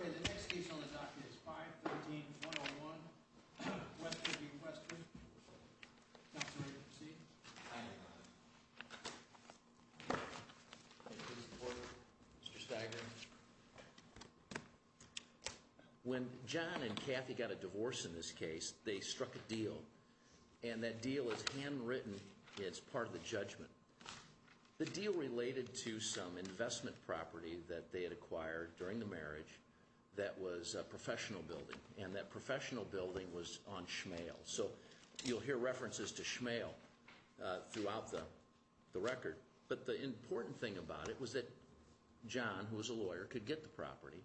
Okay, the next case on the docket is 513-101 Westra v. Westra. Counselor, you're going to proceed. I am. Thank you, Mr. Porter. Mr. Stiger. When John and Kathy got a divorce in this case, they struck a deal. And that deal is handwritten. It's part of the judgment. The deal related to some investment property that they had acquired during the marriage that was a professional building. And that professional building was on Shmael. So you'll hear references to Shmael throughout the record. But the important thing about it was that John, who was a lawyer, could get the property.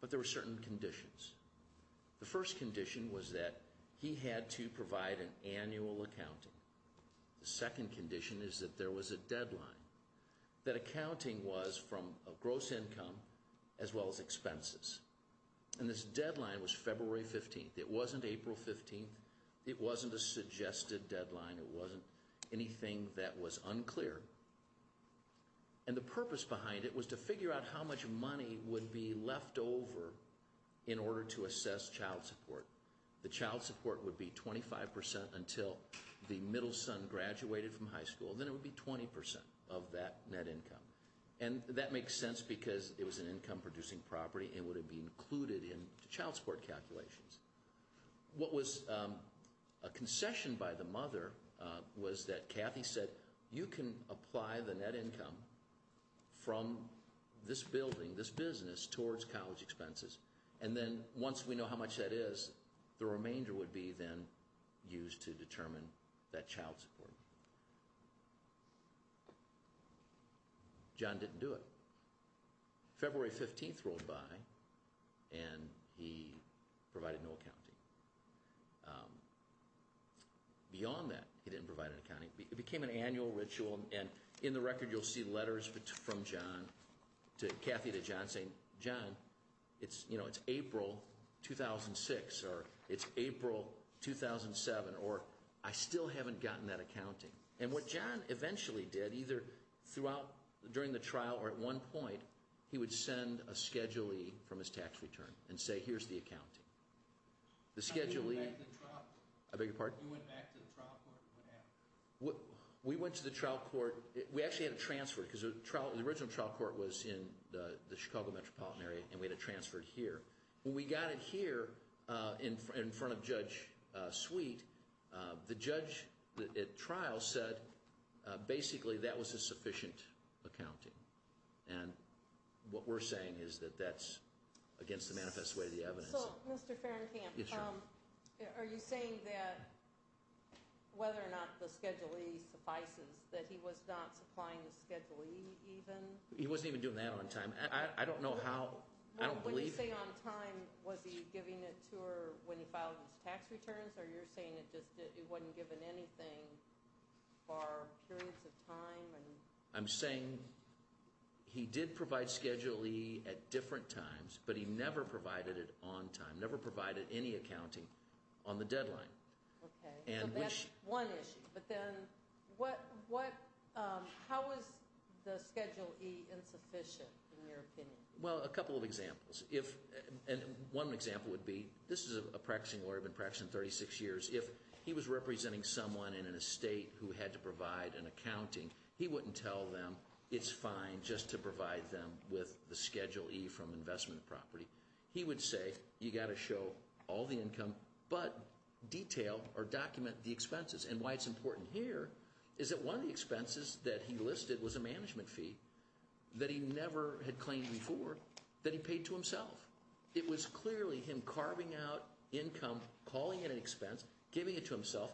But there were certain conditions. The first condition was that he had to provide an annual accounting. The second condition is that there was a deadline. That accounting was from a gross income as well as expenses. And this deadline was February 15th. It wasn't April 15th. It wasn't a suggested deadline. It wasn't anything that was unclear. And the purpose behind it was to figure out how much money would be left over in order to assess child support. The child support would be 25% until the middle son graduated from high school. Then it would be 20% of that net income. And that makes sense because it was an income-producing property and would have been included in child support calculations. What was a concession by the mother was that Kathy said, You can apply the net income from this building, this business, towards college expenses. And then once we know how much that is, the remainder would be then used to determine that child support. John didn't do it. February 15th rolled by and he provided no accounting. Beyond that, he didn't provide an accounting. It became an annual ritual. And in the record you'll see letters from Kathy to John saying, John, it's April 2006 or it's April 2007 or I still haven't gotten that accounting. And what John eventually did, either during the trial or at one point, he would send a Schedule E from his tax return and say, here's the accounting. You went back to the trial court and what happened? We went to the trial court. We actually had it transferred because the original trial court was in the Chicago metropolitan area and we had it transferred here. When we got it here in front of Judge Sweet, the judge at trial said basically that was a sufficient accounting. And what we're saying is that that's against the manifest way of the evidence. So, Mr. Ferencamp, are you saying that whether or not the Schedule E suffices, that he was not supplying the Schedule E even? He wasn't even doing that on time. I don't know how. I don't believe it. When you say on time, was he giving it to her when he filed his tax returns? Or you're saying it just wasn't given anything for periods of time? I'm saying he did provide Schedule E at different times, but he never provided it on time, never provided any accounting on the deadline. Okay, so that's one issue. But then how is the Schedule E insufficient, in your opinion? Well, a couple of examples. One example would be, this is a practicing lawyer who's been practicing for 36 years. If he was representing someone in an estate who had to provide an accounting, he wouldn't tell them it's fine just to provide them with the Schedule E from investment property. He would say, you've got to show all the income, but detail or document the expenses. And why it's important here is that one of the expenses that he listed was a management fee that he never had claimed before that he paid to himself. It was clearly him carving out income, calling it an expense, giving it to himself,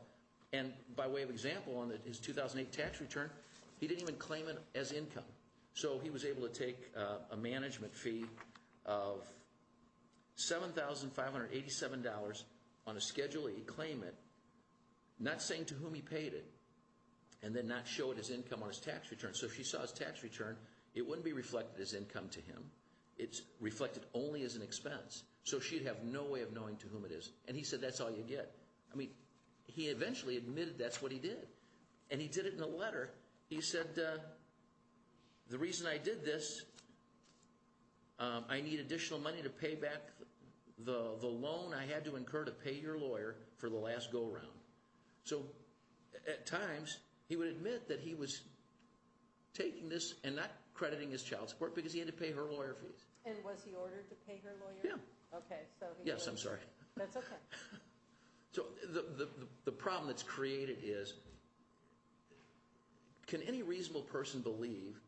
and by way of example on his 2008 tax return, he didn't even claim it as income. So he was able to take a management fee of $7,587 on a Schedule E claimant, not saying to whom he paid it, and then not show it as income on his tax return. So if he saw his tax return, it wouldn't be reflected as income to him. It's reflected only as an expense. So she'd have no way of knowing to whom it is. And he said, that's all you get. I mean, he eventually admitted that's what he did. And he did it in a letter. He said, the reason I did this, I need additional money to pay back the loan I had to incur to pay your lawyer for the last go-around. So at times, he would admit that he was taking this and not crediting his child support because he had to pay her lawyer fees. And was he ordered to pay her lawyer? Yeah. Okay, so he was. Yes, I'm sorry. That's okay. So the problem that's created is, can any reasonable person believe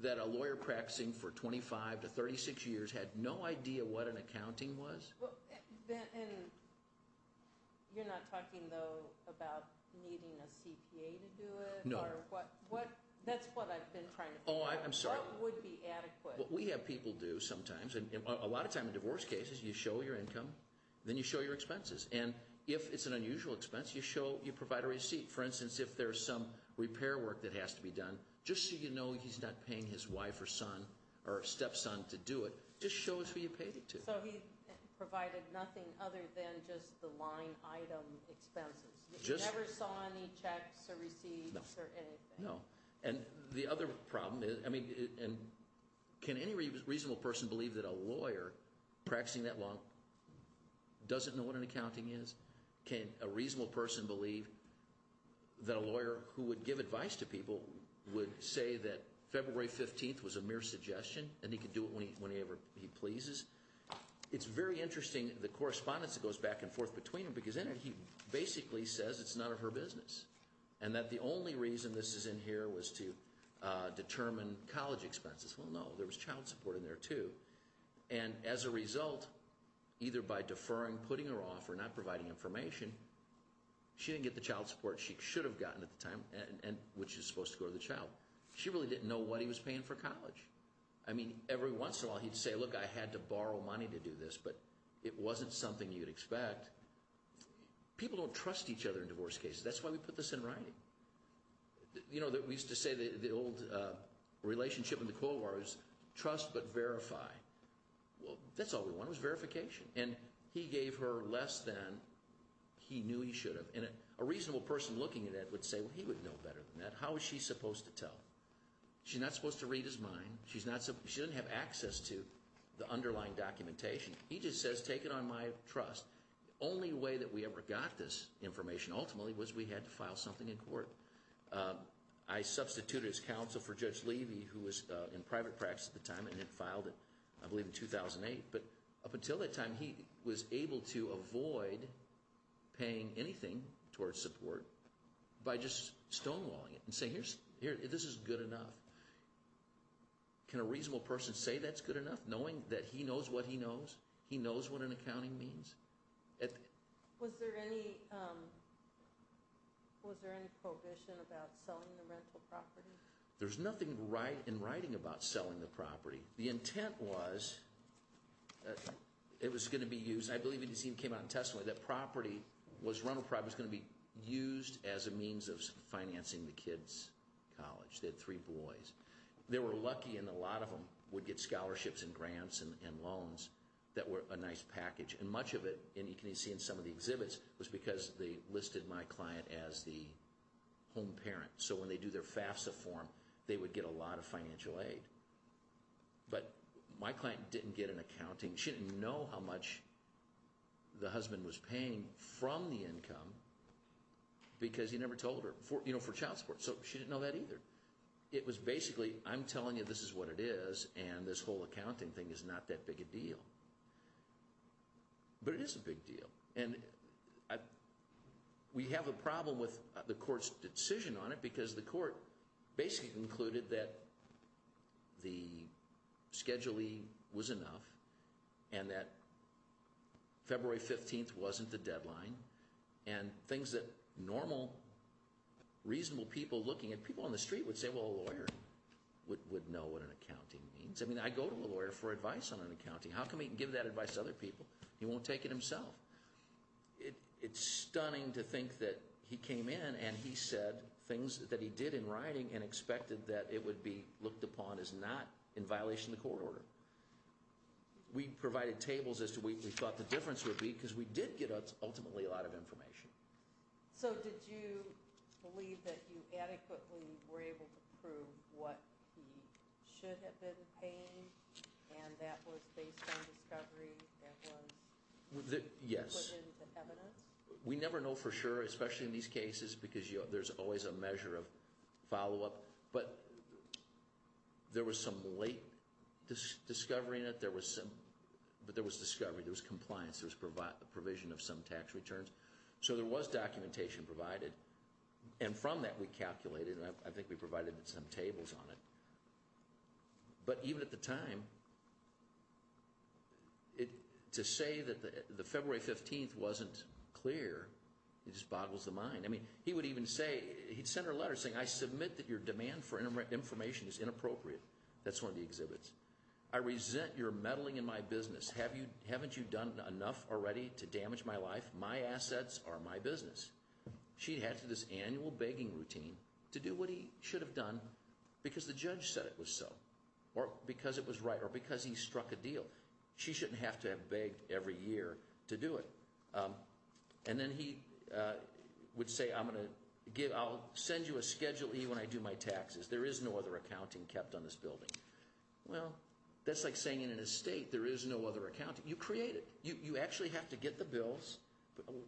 that a lawyer practicing for 25 to 36 years had no idea what an accounting was? You're not talking, though, about needing a CPA to do it? No. That's what I've been trying to figure out. Oh, I'm sorry. What would be adequate? What we have people do sometimes, and a lot of times in divorce cases, you show your income, then you show your expenses. And if it's an unusual expense, you provide a receipt. For instance, if there's some repair work that has to be done, just so you know he's not paying his wife or son or stepson to do it, just show us who you paid it to. So he provided nothing other than just the line item expenses? He never saw any checks or receipts or anything? No. And the other problem is, I mean, can any reasonable person believe that a lawyer practicing that long doesn't know what an accounting is? Can a reasonable person believe that a lawyer who would give advice to people would say that February 15th was a mere suggestion and he could do it whenever he pleases? It's very interesting, the correspondence that goes back and forth between them, because in it he basically says it's none of her business. And that the only reason this is in here was to determine college expenses. Well, no, there was child support in there, too. And as a result, either by deferring, putting her off, or not providing information, she didn't get the child support she should have gotten at the time, which is supposed to go to the child. She really didn't know what he was paying for college. I mean, every once in a while he'd say, look, I had to borrow money to do this, but it wasn't something you'd expect. People don't trust each other in divorce cases. That's why we put this in writing. You know, we used to say the old relationship in the Cold War was trust but verify. Well, that's all we wanted was verification. And he gave her less than he knew he should have. And a reasonable person looking at it would say, well, he would know better than that. How was she supposed to tell? She's not supposed to read his mind. She didn't have access to the underlying documentation. He just says, take it on my trust. The only way that we ever got this information, ultimately, was we had to file something in court. I substituted his counsel for Judge Levy, who was in private practice at the time and had filed it, I believe, in 2008. But up until that time, he was able to avoid paying anything towards support by just stonewalling it and saying, here, this is good enough. Can a reasonable person say that's good enough, knowing that he knows what he knows? Was there any prohibition about selling the rental property? There's nothing in writing about selling the property. The intent was, it was going to be used, I believe it even came out in testimony, that property was going to be used as a means of financing the kids' college. They had three boys. They were lucky, and a lot of them would get scholarships and grants and loans that were a nice package. And much of it, and you can see in some of the exhibits, was because they listed my client as the home parent. So when they do their FAFSA form, they would get a lot of financial aid. But my client didn't get an accounting. She didn't know how much the husband was paying from the income because he never told her, for child support. So she didn't know that either. It was basically, I'm telling you this is what it is, and this whole accounting thing is not that big a deal. But it is a big deal. And we have a problem with the court's decision on it because the court basically concluded that the Schedule E was enough and that February 15th wasn't the deadline. And things that normal, reasonable people looking at, people on the street would say, well a lawyer would know what an accounting means. I mean, I go to a lawyer for advice on accounting. How come he can give that advice to other people? He won't take it himself. It's stunning to think that he came in and he said things that he did in writing and expected that it would be looked upon as not in violation of the court order. We provided tables as to what we thought the difference would be because we did get ultimately a lot of information. So did you believe that you adequately were able to prove what he should have been paying? And that was based on discovery? That was put into evidence? Yes. We never know for sure, especially in these cases because there's always a measure of follow-up. But there was some late discovery in it. But there was discovery. There was compliance. There was provision of some tax returns. So there was documentation provided. And from that we calculated, and I think we provided some tables on it. But even at the time, to say that the February 15th wasn't clear, it just boggles the mind. I mean, he would even say, he'd send her a letter saying, I submit that your demand for information is inappropriate. That's one of the exhibits. I resent your meddling in my business. Haven't you done enough already to damage my life? My assets are my business. She had to do this annual begging routine to do what he should have done because the judge said it was so, or because it was right, or because he struck a deal. She shouldn't have to have begged every year to do it. And then he would say, I'll send you a Schedule E when I do my taxes. There is no other accounting kept on this building. Well, that's like saying in an estate there is no other accounting. You create it. You actually have to get the bills.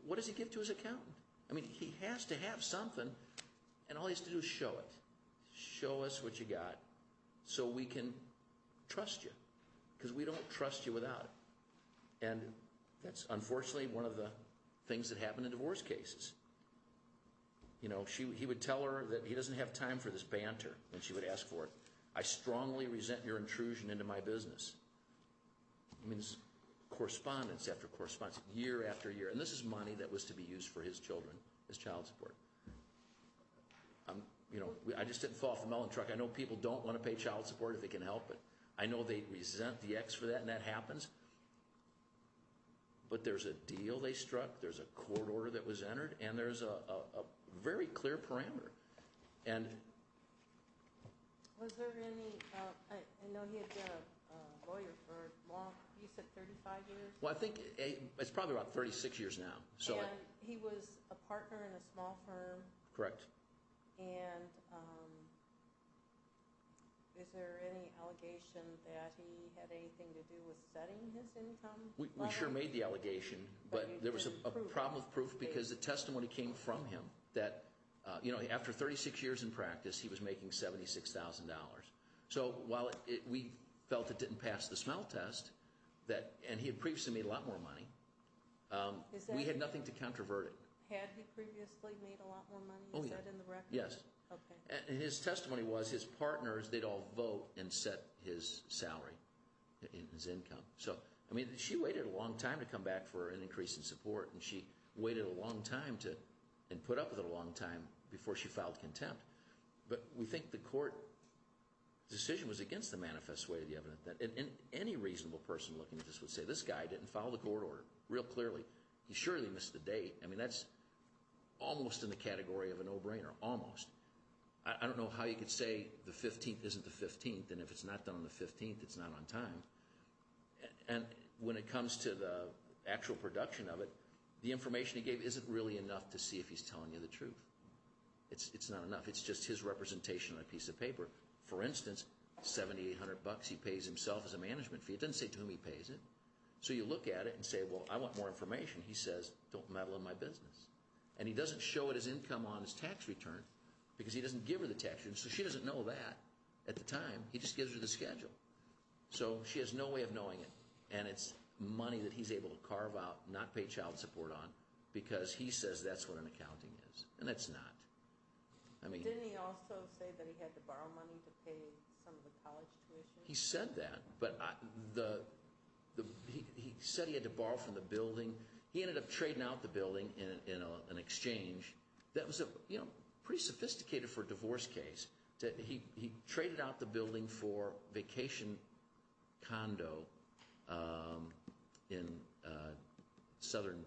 What does he give to his accountant? I mean, he has to have something, and all he has to do is show it. Show us what you got so we can trust you because we don't trust you without it. And that's unfortunately one of the things that happened in divorce cases. You know, he would tell her that he doesn't have time for this banter, and she would ask for it. I strongly resent your intrusion into my business. It means correspondence after correspondence, year after year. And this is money that was to be used for his children, his child support. You know, I just didn't fall off the melon truck. I know people don't want to pay child support if they can help, but I know they resent the ex for that, and that happens. But there's a deal they struck. There's a court order that was entered, and there's a very clear parameter. Was there any – I know he had been a lawyer for a long – you said 35 years? Well, I think it's probably about 36 years now. And he was a partner in a small firm. Correct. And is there any allegation that he had anything to do with setting his income? We sure made the allegation, but there was a problem with proof because the testimony came from him. You know, after 36 years in practice, he was making $76,000. So while we felt it didn't pass the smell test, and he had previously made a lot more money, we had nothing to controvert it. Had he previously made a lot more money? Oh, yeah. Is that in the record? Yes. Okay. And his testimony was his partners, they'd all vote and set his salary, his income. So, I mean, she waited a long time to come back for an increase in support, and she waited a long time to – and put up with it a long time before she filed contempt. But we think the court decision was against the manifest way of the evidence. And any reasonable person looking at this would say, this guy didn't follow the court order real clearly. He surely missed the date. I mean, that's almost in the category of a no-brainer, almost. I don't know how you could say the 15th isn't the 15th, and if it's not done on the 15th, it's not on time. And when it comes to the actual production of it, the information he gave isn't really enough to see if he's telling you the truth. It's not enough. It's just his representation on a piece of paper. For instance, $7,800 he pays himself as a management fee. It doesn't say to whom he pays it. So you look at it and say, well, I want more information. He says, don't meddle in my business. And he doesn't show it as income on his tax return because he doesn't give her the tax return. So she doesn't know that at the time. He just gives her the schedule. So she has no way of knowing it. And it's money that he's able to carve out, not pay child support on, because he says that's what an accounting is. And it's not. Didn't he also say that he had to borrow money to pay some of the college tuition? He said that. But he said he had to borrow from the building. He ended up trading out the building in an exchange that was pretty sophisticated for a divorce case. He traded out the building for vacation condo in southern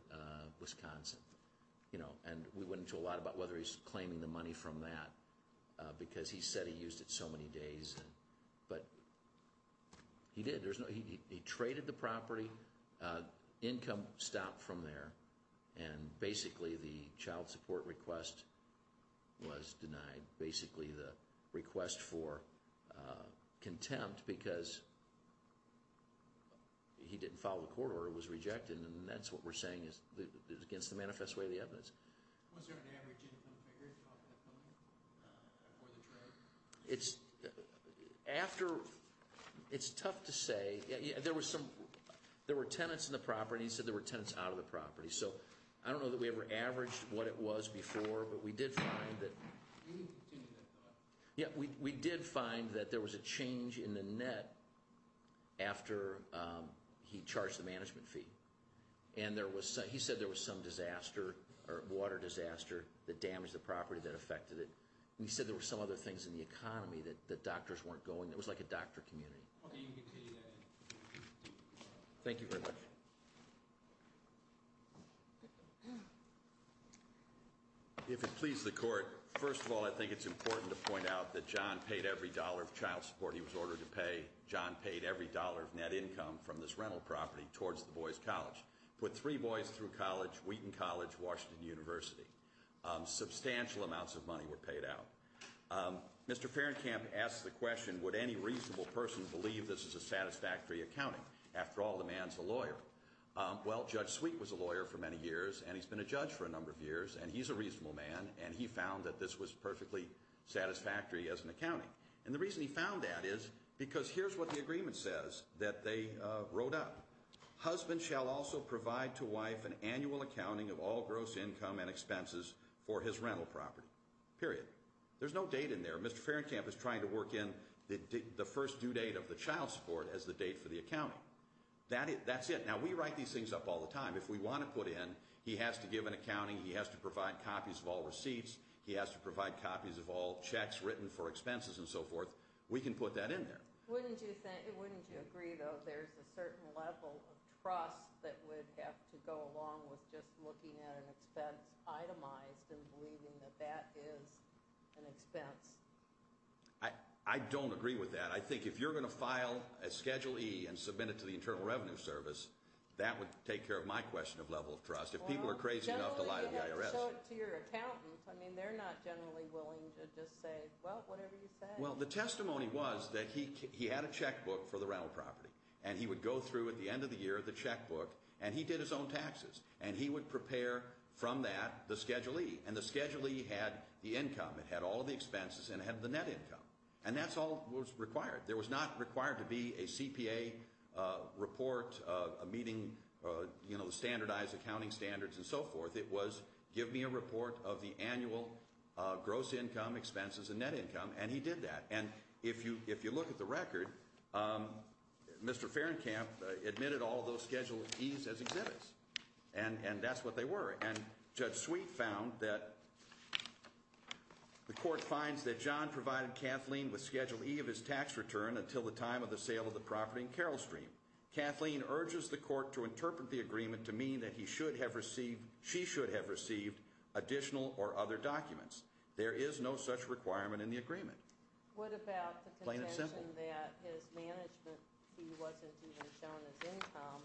Wisconsin. And we went into a lot about whether he's claiming the money from that because he said he used it so many days. But he did. He traded the property. Income stopped from there. And basically the child support request was denied. Basically the request for contempt because he didn't follow the court order. It was rejected. And that's what we're saying is against the manifest way of the evidence. Was there an average income figure for that money before the trade? It's tough to say. There were tenants in the property. He said there were tenants out of the property. So I don't know that we ever averaged what it was before. But we did find that there was a change in the net after he charged the management fee. And he said there was some disaster or water disaster that damaged the property that affected it. And he said there were some other things in the economy that doctors weren't going. It was like a doctor community. Thank you very much. Thank you. If it pleases the court, first of all, I think it's important to point out that John paid every dollar of child support he was ordered to pay. John paid every dollar of net income from this rental property towards the boys' college. Put three boys through college, Wheaton College, Washington University. Substantial amounts of money were paid out. Mr. Fahrenkamp asked the question, would any reasonable person believe this is a satisfactory accounting? After all, the man's a lawyer. Well, Judge Sweet was a lawyer for many years, and he's been a judge for a number of years. And he's a reasonable man, and he found that this was perfectly satisfactory as an accounting. And the reason he found that is because here's what the agreement says that they wrote up. Husband shall also provide to wife an annual accounting of all gross income and expenses for his rental property, period. There's no date in there. Mr. Fahrenkamp is trying to work in the first due date of the child support as the date for the accounting. That's it. Now, we write these things up all the time. If we want to put in he has to give an accounting, he has to provide copies of all receipts, he has to provide copies of all checks written for expenses and so forth, we can put that in there. Wouldn't you agree, though, there's a certain level of trust that would have to go along with just looking at an expense itemized and believing that that is an expense? I don't agree with that. I think if you're going to file a Schedule E and submit it to the Internal Revenue Service, that would take care of my question of level of trust. If people are crazy enough to lie to the IRS. Well, generally, you have to show it to your accountant. I mean, they're not generally willing to just say, well, whatever you say. Well, the testimony was that he had a checkbook for the rental property. And he would go through, at the end of the year, the checkbook, and he did his own taxes. And he would prepare from that the Schedule E. And the Schedule E had the income. It had all the expenses, and it had the net income. And that's all that was required. There was not required to be a CPA report, a meeting, you know, standardized accounting standards and so forth. It was, give me a report of the annual gross income, expenses, and net income. And he did that. And if you look at the record, Mr. Fahrenkamp admitted all those Schedule Es as exhibits. And that's what they were. And Judge Sweet found that the court finds that John provided Kathleen with Schedule E of his tax return until the time of the sale of the property in Carroll Stream. Kathleen urges the court to interpret the agreement to mean that he should have received, she should have received additional or other documents. There is no such requirement in the agreement. Plain and simple. What about the contention that his management fee wasn't even shown as income,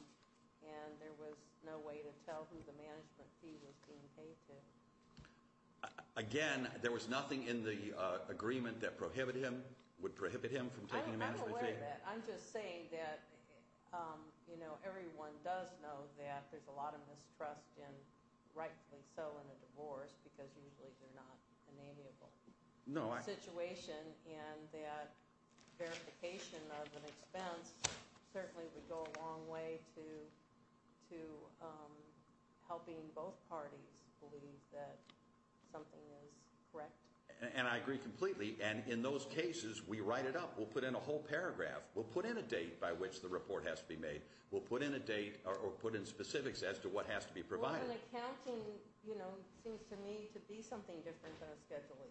and there was no way to tell who the management fee was being paid to? Again, there was nothing in the agreement that prohibited him, would prohibit him from taking a management fee. I'm aware of that. I'm just saying that, you know, everyone does know that there's a lot of mistrust in, rightfully so, in a divorce, because usually they're not an amiable situation. And that verification of an expense certainly would go a long way to helping both parties believe that something is correct. And I agree completely. And in those cases, we write it up. We'll put in a whole paragraph. We'll put in a date by which the report has to be made. We'll put in a date or put in specifics as to what has to be provided. Well, an accounting, you know, seems to me to be something different than a Schedule E.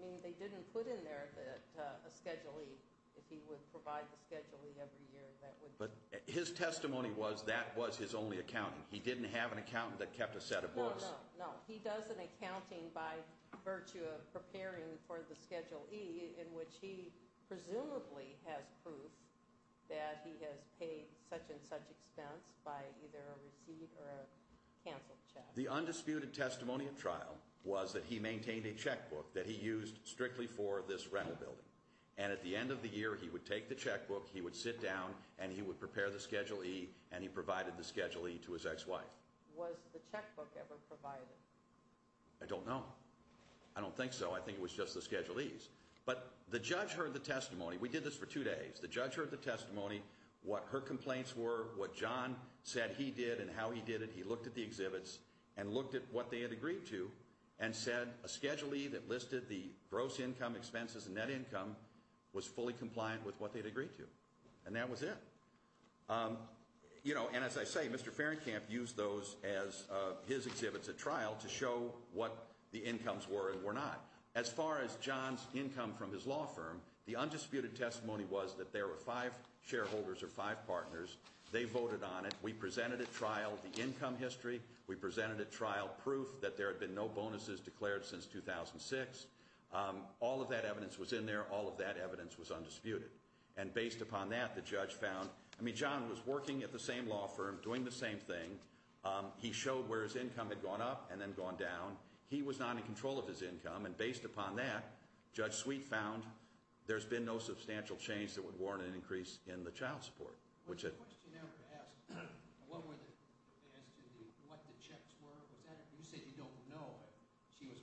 I mean, they didn't put in there that a Schedule E, if he would provide the Schedule E every year, that would be. But his testimony was that was his only accounting. He didn't have an accountant that kept a set of books. No, no, no. He does an accounting by virtue of preparing for the Schedule E, in which he presumably has proof that he has paid such and such expense by either a receipt or a canceled check. The undisputed testimony of trial was that he maintained a checkbook that he used strictly for this rental building. And at the end of the year, he would take the checkbook, he would sit down, and he would prepare the Schedule E, and he provided the Schedule E to his ex-wife. Was the checkbook ever provided? I don't know. I don't think so. I think it was just the Schedule E's. But the judge heard the testimony. We did this for two days. The judge heard the testimony, what her complaints were, what John said he did and how he did it. He looked at the exhibits and looked at what they had agreed to and said a Schedule E that listed the gross income, expenses, and net income was fully compliant with what they had agreed to. And that was it. You know, and as I say, Mr. Fahrenkamp used those as his exhibits at trial to show what the incomes were and were not. As far as John's income from his law firm, the undisputed testimony was that there were five shareholders or five partners. They voted on it. We presented at trial the income history. We presented at trial proof that there had been no bonuses declared since 2006. All of that evidence was in there. All of that evidence was undisputed. And based upon that, the judge found, I mean, John was working at the same law firm, doing the same thing. He showed where his income had gone up and then gone down. He was not in control of his income. And based upon that, Judge Sweet found there's been no substantial change that would warrant an increase in the child support. Was the question ever asked what the checks were? You said you don't know. Was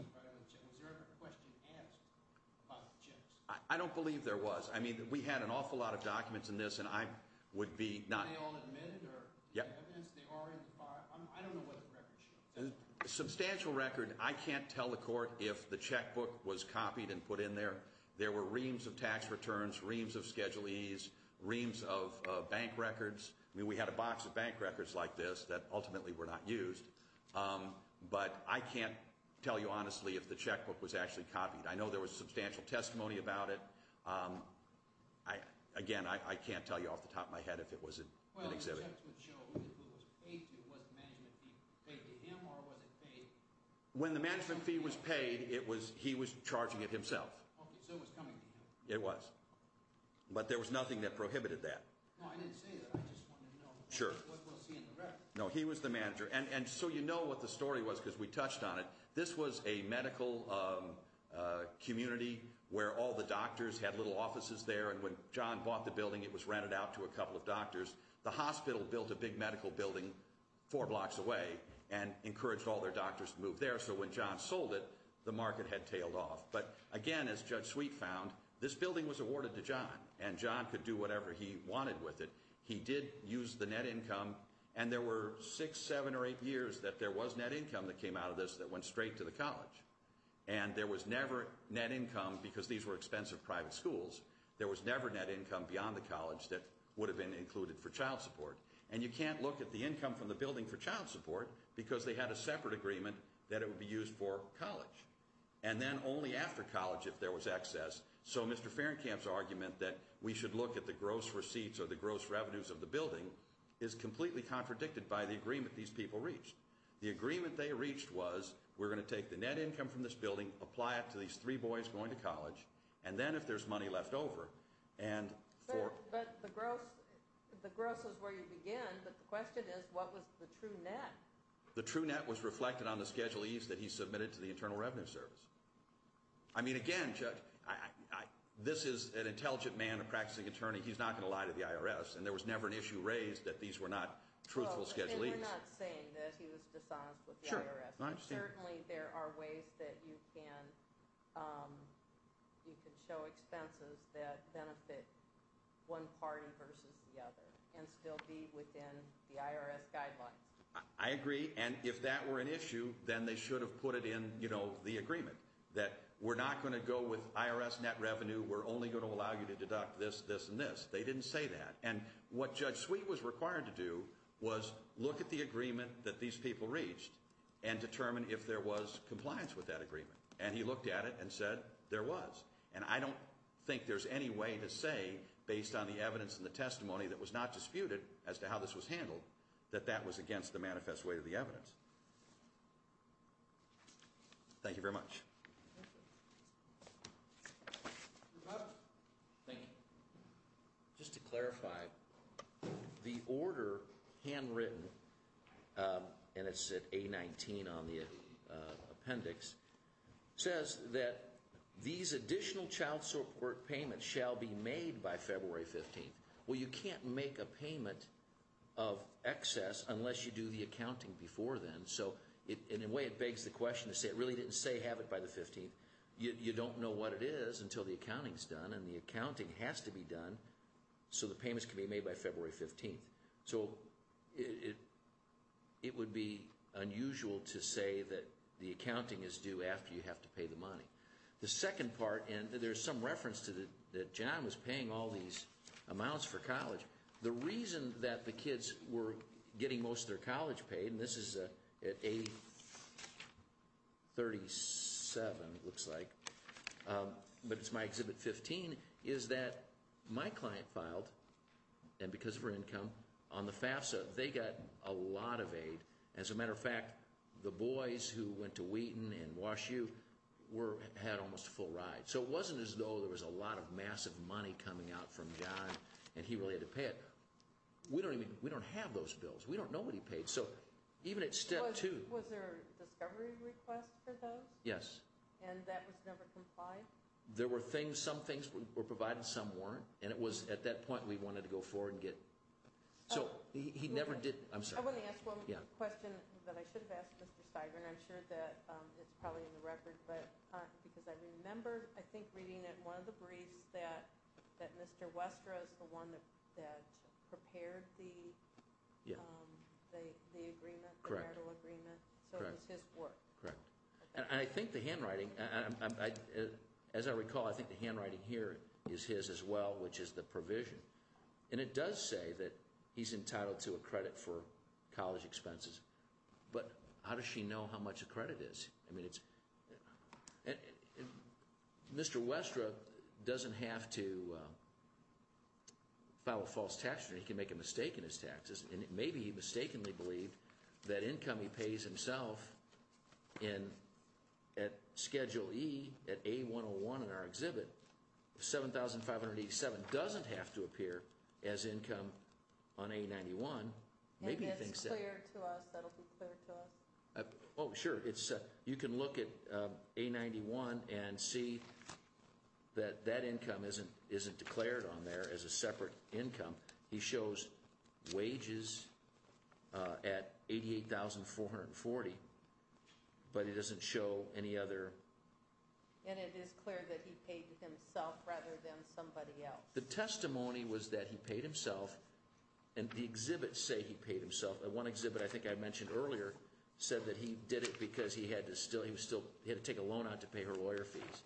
there ever a question asked about the checks? I don't believe there was. I mean, we had an awful lot of documents in this, and I would be not. Were they all admitted or evidence they are in the file? I don't know what the record shows. Substantial record. I can't tell the court if the checkbook was copied and put in there. There were reams of tax returns, reams of Schedule E's, reams of bank records. I mean, we had a box of bank records like this that ultimately were not used. But I can't tell you honestly if the checkbook was actually copied. I know there was substantial testimony about it. Again, I can't tell you off the top of my head if it was an exhibit. Well, the checks would show who it was paid to. Was the management fee paid to him or was it paid? When the management fee was paid, he was charging it himself. Okay, so it was coming to him. It was. But there was nothing that prohibited that. No, I didn't say that. I just wanted to know what was he in the record. No, he was the manager. And so you know what the story was because we touched on it. This was a medical community where all the doctors had little offices there. And when John bought the building, it was rented out to a couple of doctors. The hospital built a big medical building four blocks away and encouraged all their doctors to move there. So when John sold it, the market had tailed off. But, again, as Judge Sweet found, this building was awarded to John. And John could do whatever he wanted with it. He did use the net income. And there were six, seven, or eight years that there was net income that came out of this that went straight to the college. And there was never net income because these were expensive private schools. There was never net income beyond the college that would have been included for child support. And you can't look at the income from the building for child support because they had a separate agreement that it would be used for college. And then only after college if there was excess. So Mr. Fahrenkamp's argument that we should look at the gross receipts or the gross revenues of the building is completely contradicted by the agreement these people reached. The agreement they reached was we're going to take the net income from this building, apply it to these three boys going to college, and then if there's money left over, and for- But the gross is where you began. But the question is what was the true net? The true net was reflected on the Schedule E's that he submitted to the Internal Revenue Service. I mean, again, Judge, this is an intelligent man, a practicing attorney. He's not going to lie to the IRS. And there was never an issue raised that these were not truthful Schedule E's. You're not saying that he was dishonest with the IRS. Certainly there are ways that you can show expenses that benefit one party versus the other and still be within the IRS guidelines. I agree. And if that were an issue, then they should have put it in, you know, the agreement that we're not going to go with IRS net revenue. We're only going to allow you to deduct this, this, and this. They didn't say that. And what Judge Sweet was required to do was look at the agreement that these people reached and determine if there was compliance with that agreement. And he looked at it and said there was. And I don't think there's any way to say, based on the evidence and the testimony that was not disputed as to how this was handled, that that was against the manifest way of the evidence. Thank you very much. Thank you. Just to clarify, the order, handwritten, and it's at A-19 on the appendix, says that these additional child support payments shall be made by February 15th. Well, you can't make a payment of excess unless you do the accounting before then. So in a way it begs the question to say it really didn't say have it by the 15th. You don't know what it is until the accounting is done, and the accounting has to be done so the payments can be made by February 15th. So it would be unusual to say that the accounting is due after you have to pay the money. The second part, and there's some reference to that John was paying all these amounts for college. The reason that the kids were getting most of their college paid, and this is at A-37 it looks like, but it's my Exhibit 15, is that my client filed, and because of her income, on the FAFSA. They got a lot of aid. As a matter of fact, the boys who went to Wheaton and Wash U had almost a full ride. So it wasn't as though there was a lot of massive money coming out from John, and he really had to pay it. We don't have those bills. We don't know what he paid. So even at step two. Was there a discovery request for those? Yes. And that was never complied? There were things, some things were provided, some weren't. And it was at that point we wanted to go forward and get. So he never did. I'm sorry. I want to ask one question that I should have asked Mr. Steiger, and I'm sure that it's probably in the record. Because I remember, I think, reading in one of the briefs that Mr. Westra is the one that prepared the agreement, the marital agreement. So it was his work. Correct. And I think the handwriting, as I recall, I think the handwriting here is his as well, which is the provision. And it does say that he's entitled to a credit for college expenses. But how does she know how much a credit is? I mean, Mr. Westra doesn't have to file a false tax return. He can make a mistake in his taxes. And maybe he mistakenly believed that income he pays himself at Schedule E at A101 in our exhibit, 7,587, doesn't have to appear as income on A91. Maybe it's clear to us. That will be clear to us. Oh, sure. You can look at A91 and see that that income isn't declared on there as a separate income. He shows wages at $88,440. But he doesn't show any other. And it is clear that he paid himself rather than somebody else. The testimony was that he paid himself. And the exhibits say he paid himself. One exhibit I think I mentioned earlier said that he did it because he had to take a loan out to pay her lawyer fees.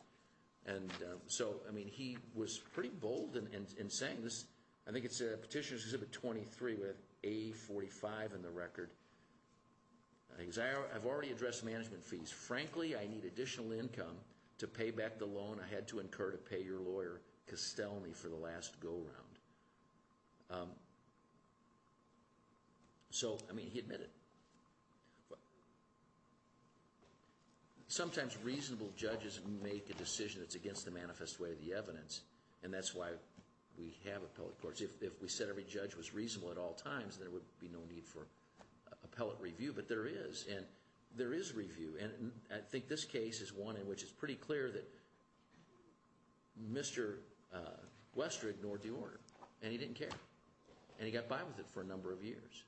And so, I mean, he was pretty bold in saying this. I think it's Petitioner's Exhibit 23 with A45 in the record. I've already addressed management fees. Frankly, I need additional income to pay back the loan I had to incur to pay your lawyer, Costelny, for the last go-round. So, I mean, he admitted. Sometimes reasonable judges make a decision that's against the manifest way of the evidence. And that's why we have appellate courts. If we said every judge was reasonable at all times, there would be no need for appellate review. But there is. And there is review. And I think this case is one in which it's pretty clear that Mr. Westra ignored the order. And he didn't care. And he got by with it for a number of years.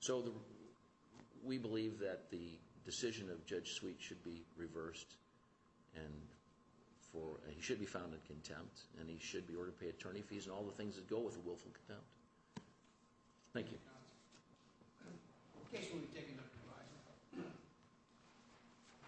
So, we believe that the decision of Judge Sweet should be reversed. And he should be found in contempt. And he should be ordered to pay attorney fees and all the things that go with a willful contempt. Thank you. Okay. We'll be taking a break.